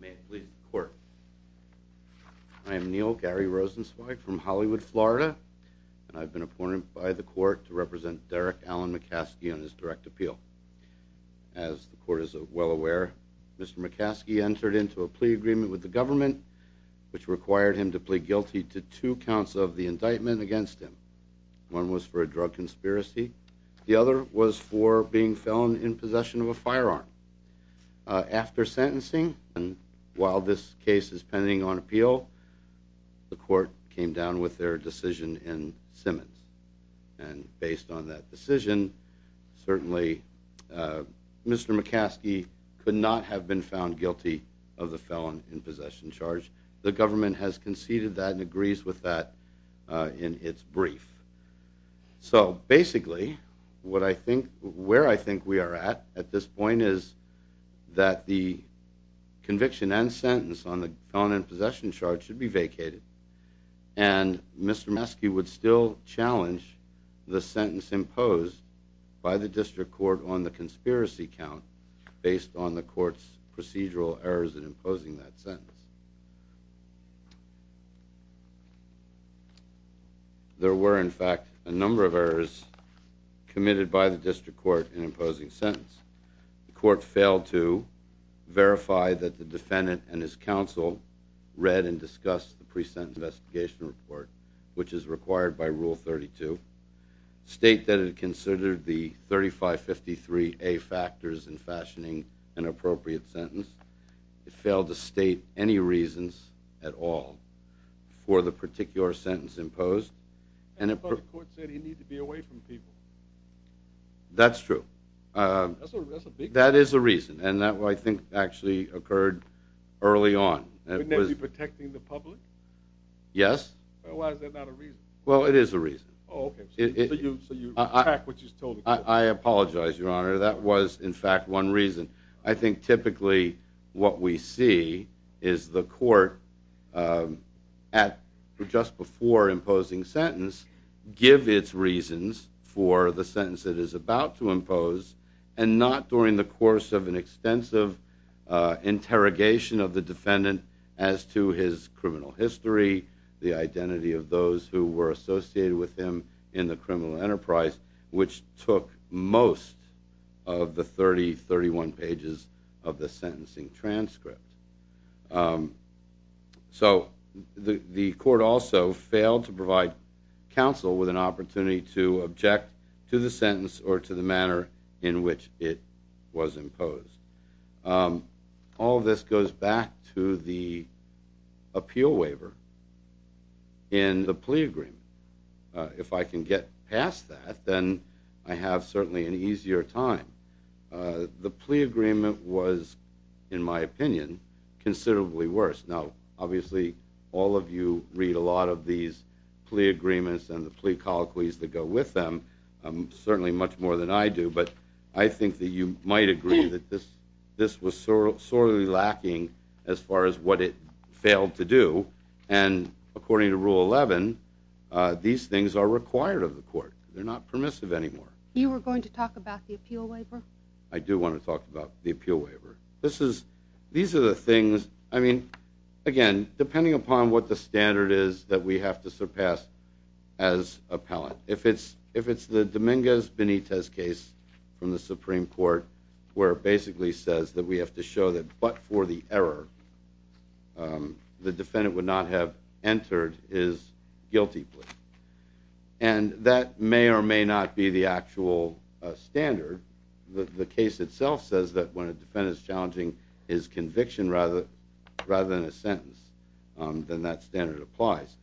May it please the court. I am Neil Gary Rosenzweig from Hollywood, Florida, and I've been appointed by the court to represent Derrick Allen McCaskey on his direct appeal. As the court is well aware, Mr. McCaskey entered into a plea agreement with the government which required him to plead guilty to two counts of the indictment against him. One was for a drug conspiracy. The other was for being in possession of a firearm. After sentencing and while this case is pending on appeal, the court came down with their decision in Simmons. And based on that decision, certainly Mr. McCaskey could not have been found guilty of the felon in possession charge. The government has conceded that and agrees with that in its brief. So basically what I think, where I think we are at at this point is that the conviction and sentence on the felon in possession charge should be vacated. And Mr. McCaskey would still challenge the sentence imposed by the district court on the conspiracy count based on the court's procedural errors in court in imposing sentence. The court failed to verify that the defendant and his counsel read and discussed the pre-sentence investigation report, which is required by Rule 32, state that it considered the 3553A factors in fashioning an appropriate sentence. It failed to state any reasons at all for the particular sentence imposed. And the court said he needed to be That's true. That is a reason. And that I think actually occurred early on. Yes. Well, it is a reason. I apologize, Your Honor. That was, in fact, one reason. I think for the sentence that is about to impose and not during the course of an extensive interrogation of the defendant as to his criminal history, the identity of those who were associated with him in the criminal enterprise, which took most of the 30, 31 pages of the sentencing to the sentence or to the manner in which it was imposed. All this goes back to the appeal waiver in the plea agreement. If I can get past that, then I have certainly an easier time. The plea agreement was, in my opinion, considerably worse. Now, obviously, all of you read a lot of these plea agreements and the plea colloquies that go with them, certainly much more than I do. But I think that you might agree that this was sorely lacking as far as what it failed to do. And according to Rule 11, these things are required of the court. They're not permissive anymore. You were going to talk about the appeal waiver? I do want to talk about the appeal waiver. These are the things, I mean, again, depending upon what the standard is that we have to surpass as appellant. If it's the Dominguez-Benitez case from the Supreme Court, where it basically says that we have to show that but for the error, the defendant would not have entered his guilty plea. And that may or may not be the actual standard. The case itself says that when a defendant is challenging his conviction rather than a sentence, then that standard applies.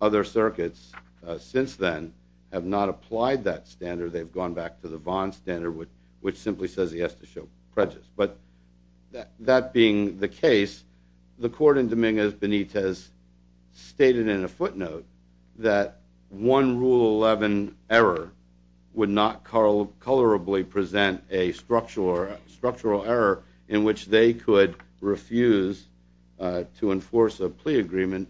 Other circuits, since then, have not applied that standard. They've gone back to the Vaughn standard, which simply says he has to show prejudice. But that being the case, the court in Dominguez-Benitez stated in a footnote that one Rule 11 error would not colorably present a structural error in which they could refuse to enforce a plea agreement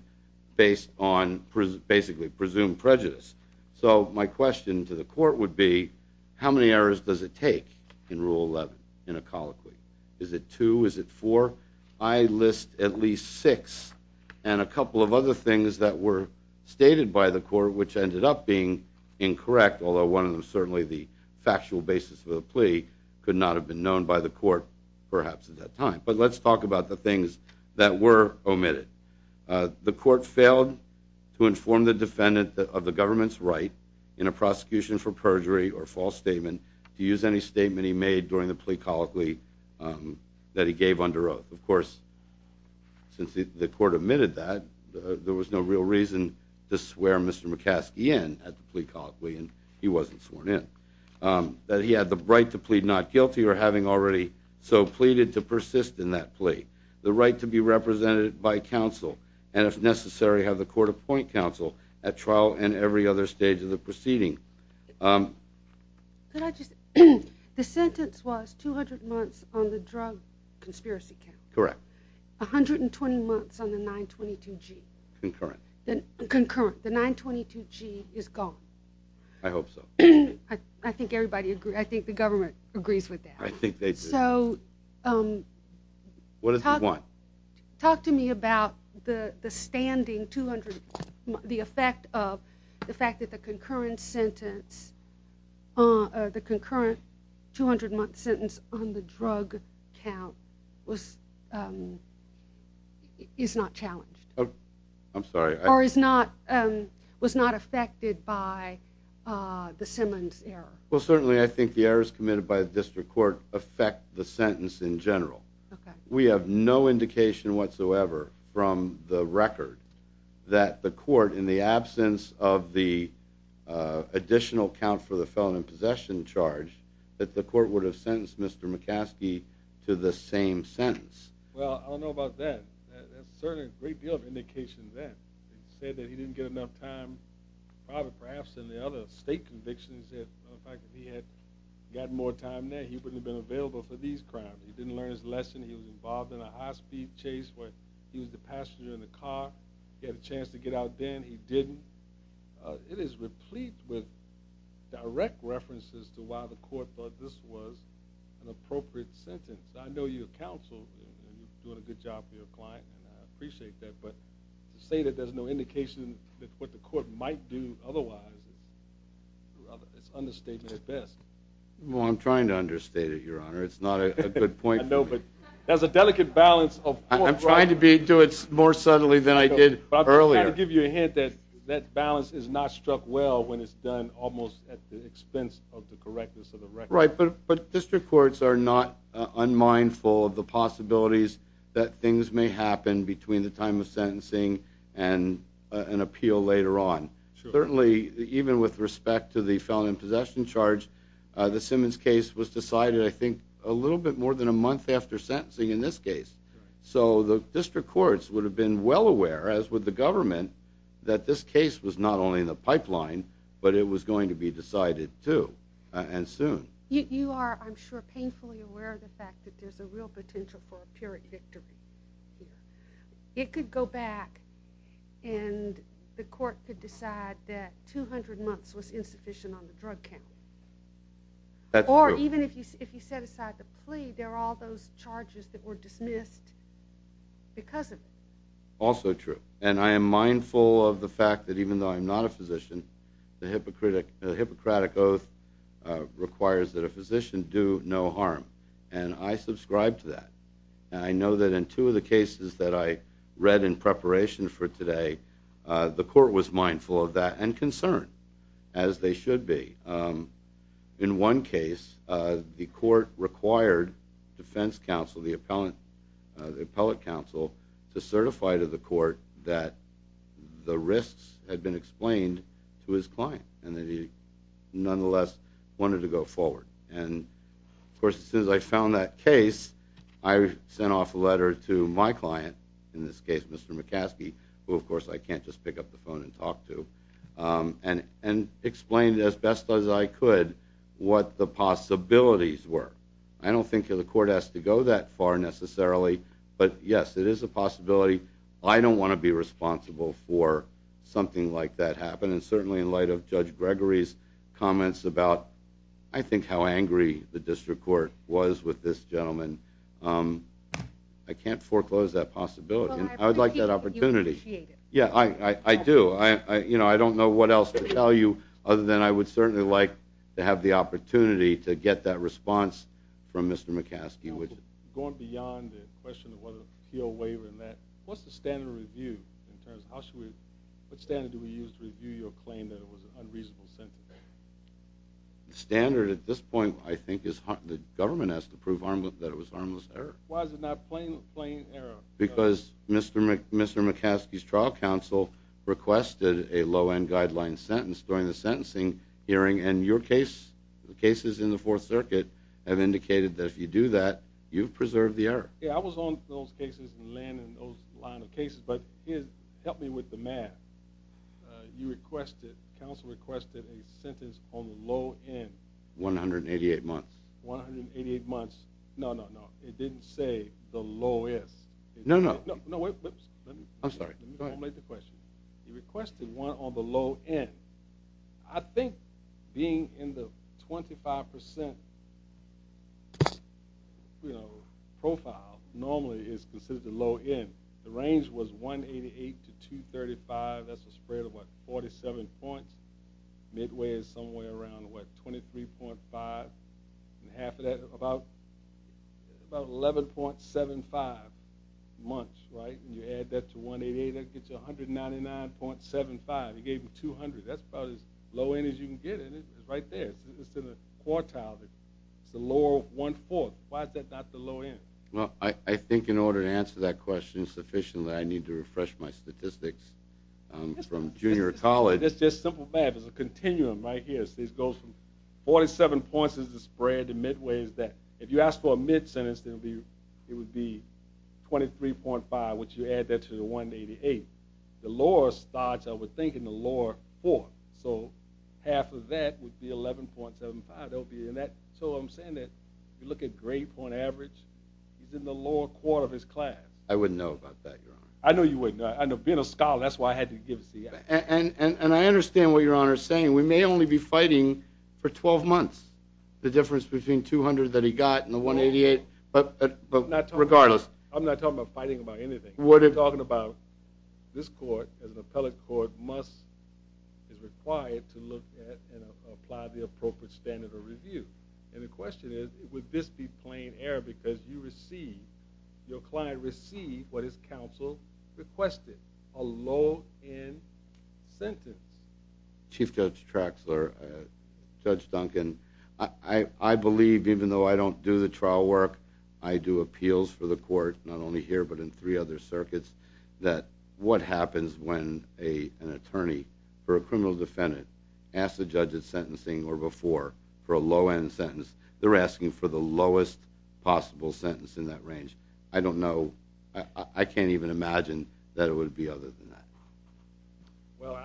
based on basically presumed prejudice. So my question to the court would be, how many errors does it take in Rule 11 in a colloquy? Is it two? Is it four? I list at least six and a couple of other things that were stated by the court which ended up being incorrect, although one of them, certainly the factual basis of the plea, could not have been the things that were omitted. The court failed to inform the defendant of the government's right in a prosecution for perjury or false statement to use any statement he made during the plea colloquy that he gave under oath. Of course, since the court omitted that, there was no real reason to swear Mr. McCaskey in at the plea colloquy, and he wasn't sworn in. That he had the right to plead not guilty or having already so pleaded to persist in that plea. The right to be represented by counsel and, if necessary, have the court appoint counsel at trial and every other stage of the proceeding. The sentence was 200 months on the drug conspiracy count. Correct. 120 months on the 922-G. Concurrent. Concurrent. The 922-G is gone. I hope so. I think everybody I think the government agrees with that. I think they do. So, what does this want? Talk to me about the standing 200, the effect of the fact that the concurrent sentence, the concurrent 200-month sentence on the drug count was, is not challenged. Oh, I'm sorry. Or is not, was not affected by the Simmons error. Well, certainly, I think the errors committed by the district court affect the sentence in general. Okay. We have no indication whatsoever from the record that the court, in the absence of the additional count for the felon in possession charge, that the court would have sentenced Mr. McCaskey to the same sentence. Well, I don't know about that. That's certainly a great deal of indication then. He said that he didn't get enough time, probably perhaps in the other state convictions, that the fact that he had got more time there, he wouldn't have been available for these crimes. He didn't learn his lesson. He was involved in a high-speed chase where he was the passenger in the car. He had a chance to get out then. He didn't. It is replete with direct references to why the court thought this was an appropriate sentence. I know you're counsel, and you're doing a good job for your client, and I appreciate that. But to say that there's no indication that what the court might do otherwise, it's an understatement at best. Well, I'm trying to understate it, Your Honor. It's not a good point. I know, but there's a delicate balance of... I'm trying to do it more subtly than I did earlier. I'm trying to give you a hint that that balance is not struck well when it's done almost at the expense of the correctness of the record. Right, but district courts are not unmindful of the possibilities that things may happen between the time of sentencing and an appeal later on. Certainly, even with respect to the felon in possession charge, the Simmons case was decided, I think, a little bit more than a month after sentencing in this case. So the district courts would have been well aware, as would the government, that this case was not only in the pipeline, but it was going to be decided too, and soon. You are, I'm sure, painfully aware of the fact that there's a real potential for a period victory. It could go back and the court could decide that 200 months was insufficient on the drug count. That's true. Or even if you set aside the plea, there are all those charges that were dismissed because of it. Also true, and I am mindful of the fact that even though I'm not a physician, the Hippocratic Oath requires that a physician do no harm, and I subscribe to that. I know that in two of the cases that I read in preparation for today, the court was mindful of that and concerned, as they should be. In one case, the court required defense counsel, the appellate counsel, to certify to the court that the risks had been explained to his client and that he nonetheless wanted to go forward. And of course, as soon as I found that case, I sent off a letter to my client, in this case Mr. McCaskey, who of course I can't just pick up the phone and talk to, and explained as best as I could what the possibilities were. I don't think the court has to go that far necessarily, but yes, it is a possibility. I don't want to be responsible for something like that happening, certainly in light of Judge Gregory's comments about, I think, how angry the district court was with this gentleman. I can't foreclose that possibility. I would like that opportunity. Yeah, I do. I don't know what else to tell you, other than I would certainly like to have the opportunity to get that response from Mr. McCaskey. Going beyond the question of whether he'll waver in that, what's the standard review in terms of, what standard do we use to review your claim that it was an unreasonable sentence? The standard at this point, I think, is the government has to prove that it was harmless error. Why is it not plain error? Because Mr. McCaskey's trial counsel requested a low-end guideline sentence during the sentencing hearing, and your case, the cases in the Fourth Circuit, have indicated that if you do that, you've preserved the error. Yeah, I was on those cases and laying in those line of cases, but help me with the math. You requested, counsel requested a sentence on the low end. 188 months. 188 months. No, no, no. It didn't say the lowest. No, no. No, wait. I'm sorry. Let me formulate the question. He requested one on the low end. I think being in the 25 percent, you know, profile normally is considered the low end. The range was 188 to 235. That's a spread of, what, 47 points. Midway is somewhere around, what, 23.5 and half of that, about 11.75 months, right? And you add that to 188, that gets you 199.75. He gave him 200. That's about as low-end as you can get, and it's right there. It's in the quartile. It's the lower one-fourth. Why is that not the low end? Well, I think in order to answer that question sufficiently, I need to refresh my statistics from junior college. It's just simple math. There's a continuum right here. It goes from 47 points is the spread. The midway is that. If you ask for a mid-sentence, it would be 23.5, which you add that to the 188. The lower starts, I would think, in the lower fourth. So half of that would be 11.75. So I'm saying that if you look at grade point average, he's in the lower quarter of his class. I wouldn't know about that, Your Honor. I know you wouldn't. Being a scholar, that's why I had to give it to you. And I understand what Your Honor is saying. We may only be fighting for 12 months, the difference between 200 that he got and the 188, but regardless. I'm not talking about fighting about anything. I'm talking about this court, as an appellate court, must, is required to look at and apply the appropriate standard of review. And the question is, would this be plain error because you receive, your client received what his counsel requested, a low-end sentence? Chief Judge Traxler, Judge Duncan, I believe, even though I don't do the trial work, I do appeals for the court, not only here but in three other circuits, that what happens when an attorney or a criminal defendant asks the judge at sentencing or before for a low-end sentence, they're asking for the lowest possible sentence in that range. I don't know. I can't even imagine that it would be other than that. Well,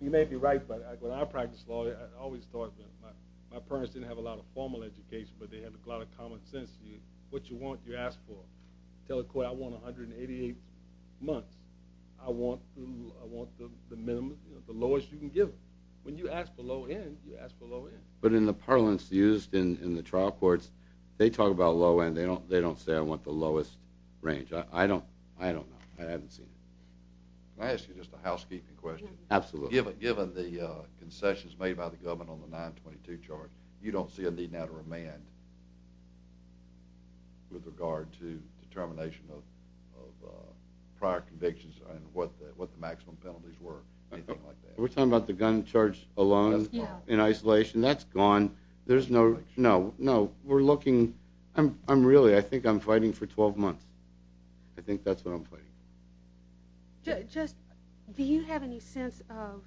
you may be right, but when I practiced law, I always thought that my parents didn't have a lot of formal education, but they had a lot of common sense. What you want, you ask for. Tell the court, I want 188 months. I want the minimum, the lowest you can give. When you ask for low-end, you ask for low-end. But in the parlance used in the trial courts, they talk about low-end. They don't say I want the lowest range. I don't know. I haven't seen it. Can I ask you just a housekeeping question? Absolutely. Given the concessions made by the government on the 922 charge, you don't see a need now to remand with regard to determination of prior convictions and what the maximum penalties were, anything like that? We're talking about the gun charge alone in isolation. That's gone. There's no, no, no. We're looking, I'm really, I think I'm fighting for 12 months. I think that's what I'm fighting. Just, do you have any sense of,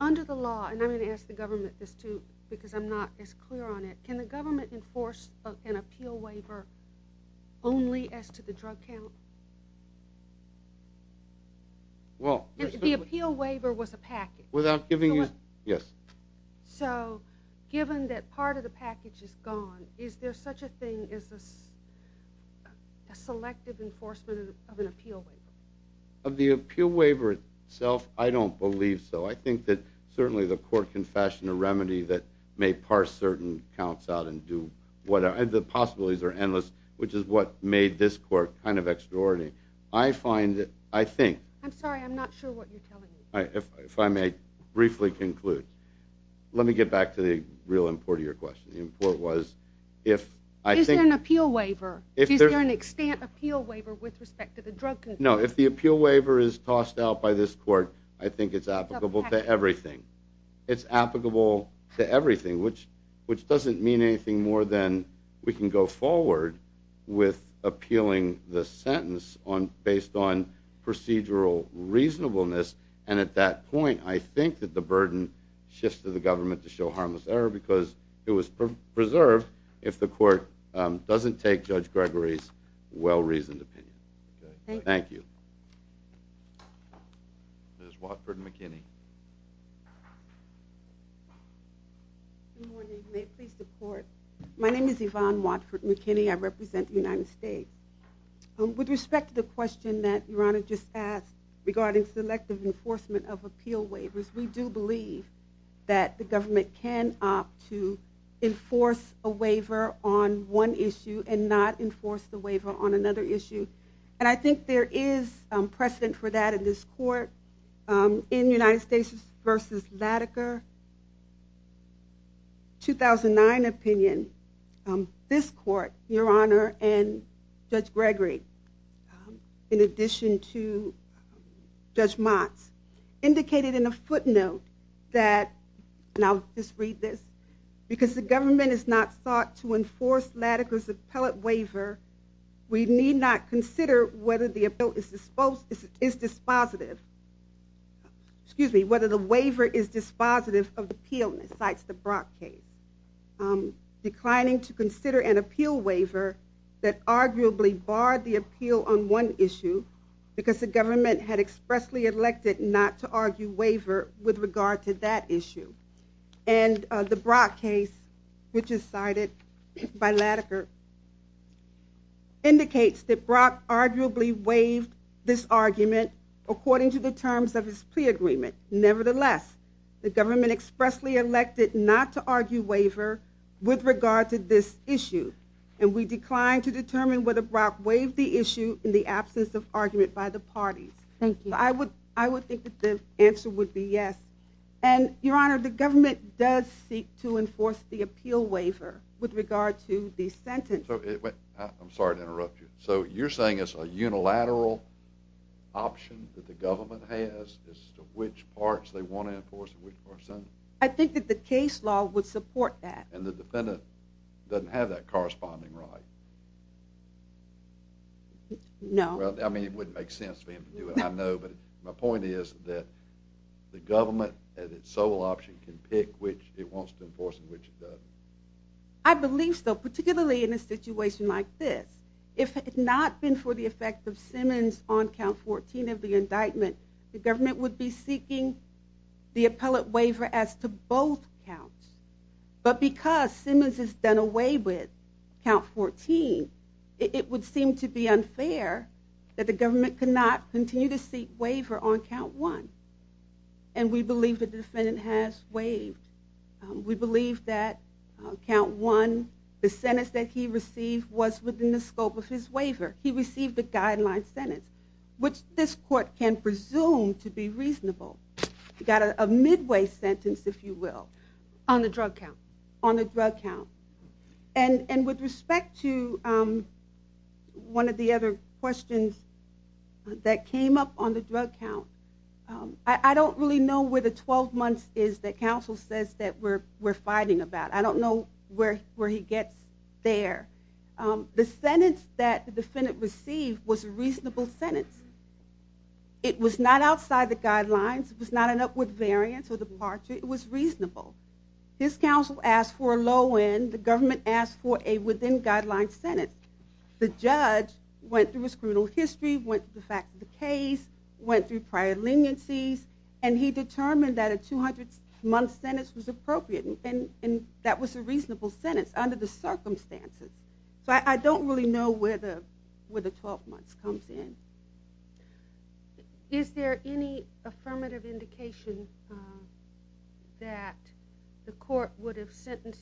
under the law, and I'm going to ask the government this too, because I'm not as clear on it, can the government enforce an appeal waiver only as to the drug count? Well, the appeal waiver was a package. Without giving you, yes. So given that part of the package is gone, is there such a thing as a selective enforcement of an appeal waiver? Of the appeal waiver itself, I don't believe so. I think that certainly the court can fashion a remedy that may parse certain counts out and do whatever. The possibilities are endless, which is what made this court kind of extraordinary. I find, I think. I'm sorry, I'm not sure what you're telling me. If I may briefly conclude. Let me get back to the real import of your question. The import was, if I think. Is there an appeal waiver? Is there an extent appeal waiver with respect to the drug? No, if the appeal waiver is tossed out by this court, I think it's applicable to everything. It's applicable to everything, which doesn't mean anything more than we can go forward with appealing the sentence based on procedural reasonableness. And at that point, I think that the burden shifts to the government to show harmless error, because it was preserved if the court doesn't take Judge Gregory's well-reasoned opinion. Thank you. Ms. Watford McKinney. Good morning. May it please the court. My name is Yvonne Watford McKinney. I represent the United States. With respect to the question that Your Honor just asked regarding selective enforcement of appeal waivers, we do believe that the government can opt to enforce a waiver on one issue and not enforce the waiver on another issue. And I think there is precedent for that in this court. In United States v. LATICA 2009 opinion, this court, Your Honor, and Judge Gregory, in addition to Judge Motz, indicated in a footnote that, and I'll just read this, because the government is not sought to enforce LATICA's appellate waiver, we need not consider whether the appeal is dispositive, excuse me, whether the waiver is dispositive of appeal, cites the Brock case. Declining to consider an appeal waiver that arguably barred the appeal on one issue because the government had expressly elected not to argue waiver with regard to that waived this argument according to the terms of his plea agreement. Nevertheless, the government expressly elected not to argue waiver with regard to this issue, and we declined to determine whether Brock waived the issue in the absence of argument by the parties. Thank you. I would think that the answer would be yes, and Your Honor, the government does seek to enforce the appeal waiver with regard to the sentence. I'm sorry to interrupt you. So you're saying it's a unilateral option that the government has as to which parts they want to enforce and which parts don't? I think that the case law would support that. And the defendant doesn't have that corresponding right? No. Well, I mean, it wouldn't make sense for him to do it, I know, but my point is that the government at its sole option can pick which it wants to enforce and which it doesn't. I believe so, particularly in a situation like this. If it had not been for the effect of Simmons on count 14 of the indictment, the government would be seeking the appellate waiver as to both counts. But because Simmons has done away with count 14, it would seem to be unfair that the government cannot continue to seek waiver on count one. And we believe that the defendant has waived. We believe that count one, the sentence that he received was within the scope of his waiver. He received a guideline sentence, which this court can presume to be reasonable. He got a midway sentence, if you will, on the drug count. And with respect to one of the other questions that came up on the drug count, I don't really know where the 12 says that we're fighting about. I don't know where he gets there. The sentence that the defendant received was a reasonable sentence. It was not outside the guidelines. It was not an upward variance or departure. It was reasonable. His counsel asked for a low end. The government asked for a within guideline sentence. The judge went through his criminal history, went to the case, went through prior leniencies, and he determined that a 200-month sentence was appropriate. And that was a reasonable sentence under the circumstances. So I don't really know where the 12 months comes in. Is there any affirmative indication that the court would have sentenced?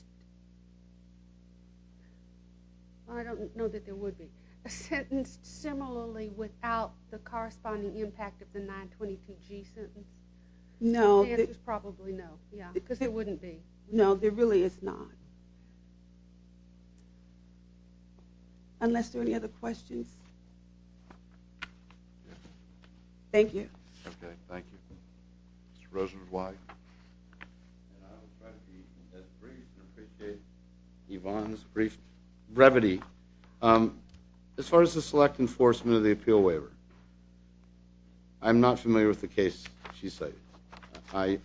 I don't know that there would be. Sentenced similarly without the corresponding impact of the 922G sentence? No. The answer is probably no. Yeah. Because there wouldn't be. No, there really is not. Unless there are any other questions? Yes. Thank you. Okay, thank you. Mr. Rosenblatt. And I will try to be as brief and appreciate Yvonne's brief brevity. As far as the select enforcement of the appeal waiver, I'm not familiar with the case she cited. I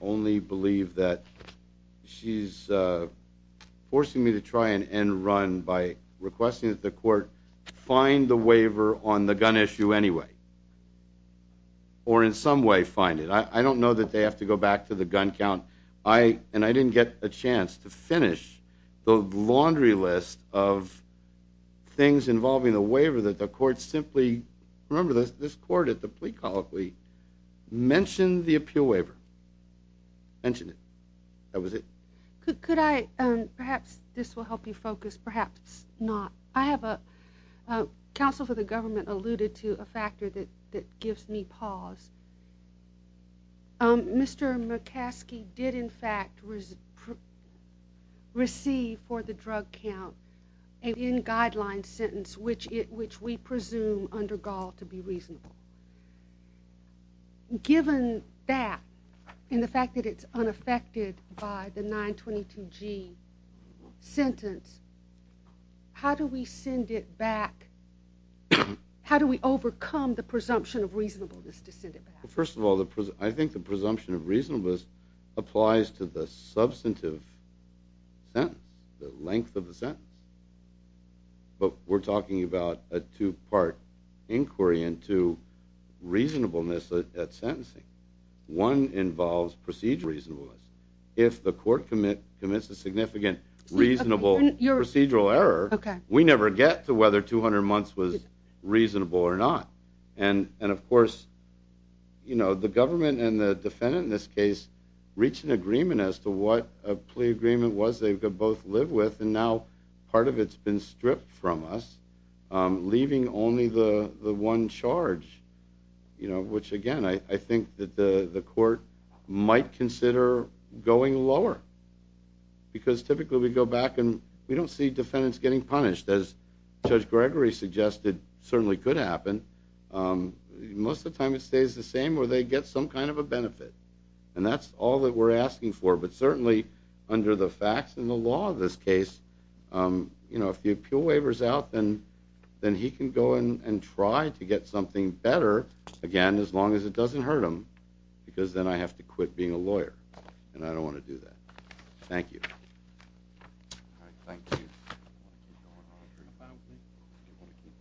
only believe that she's forcing me to try and end run by requesting that the court find the waiver on the gun issue anyway. Or in some way find it. I don't know that they have to go back to the gun count. And I didn't get a chance to finish the laundry list of things involving the waiver that the court simply... Remember, this court at the plea colloquy mentioned the appeal waiver. Mentioned it. That was it. Could I... Perhaps this will help you focus. Perhaps not. I have a... Counsel for the government alluded to a factor that gives me pause. Mr. McCaskey did in fact receive for the drug count a in-guideline sentence which we presume under Gaul to be reasonable. Given that and the fact that it's unaffected by the 922g sentence, how do we send it back? How do we overcome the presumption of reasonableness to send it back? First of all, I think the presumption of reasonableness applies to the substantive sentence. The length of the sentence. But we're talking about a two-part inquiry into reasonableness at sentencing. One involves procedural reasonableness. If the court commits a significant reasonable procedural error, we never get to whether 200 months was reasonable or not. And of course, you know, the government and the defendant in this case reach an agreement as to what a plea agreement was they could both live with and now part of it's been stripped from us, leaving only the one charge. You know, which again, I think that the court might consider going lower. Because typically we go back and we don't see defendants getting punished as Judge Gregory suggested certainly could happen. Most of the time it stays the same where they get some kind of a benefit. And that's all that we're asking for. But certainly under the facts and the law of this case, you know, if the appeal waiver is out, then he can go and try to get something better again as long as it doesn't hurt him. Because then I have to quit being a lawyer and I don't want to do that. Thank you. All right. Thank you.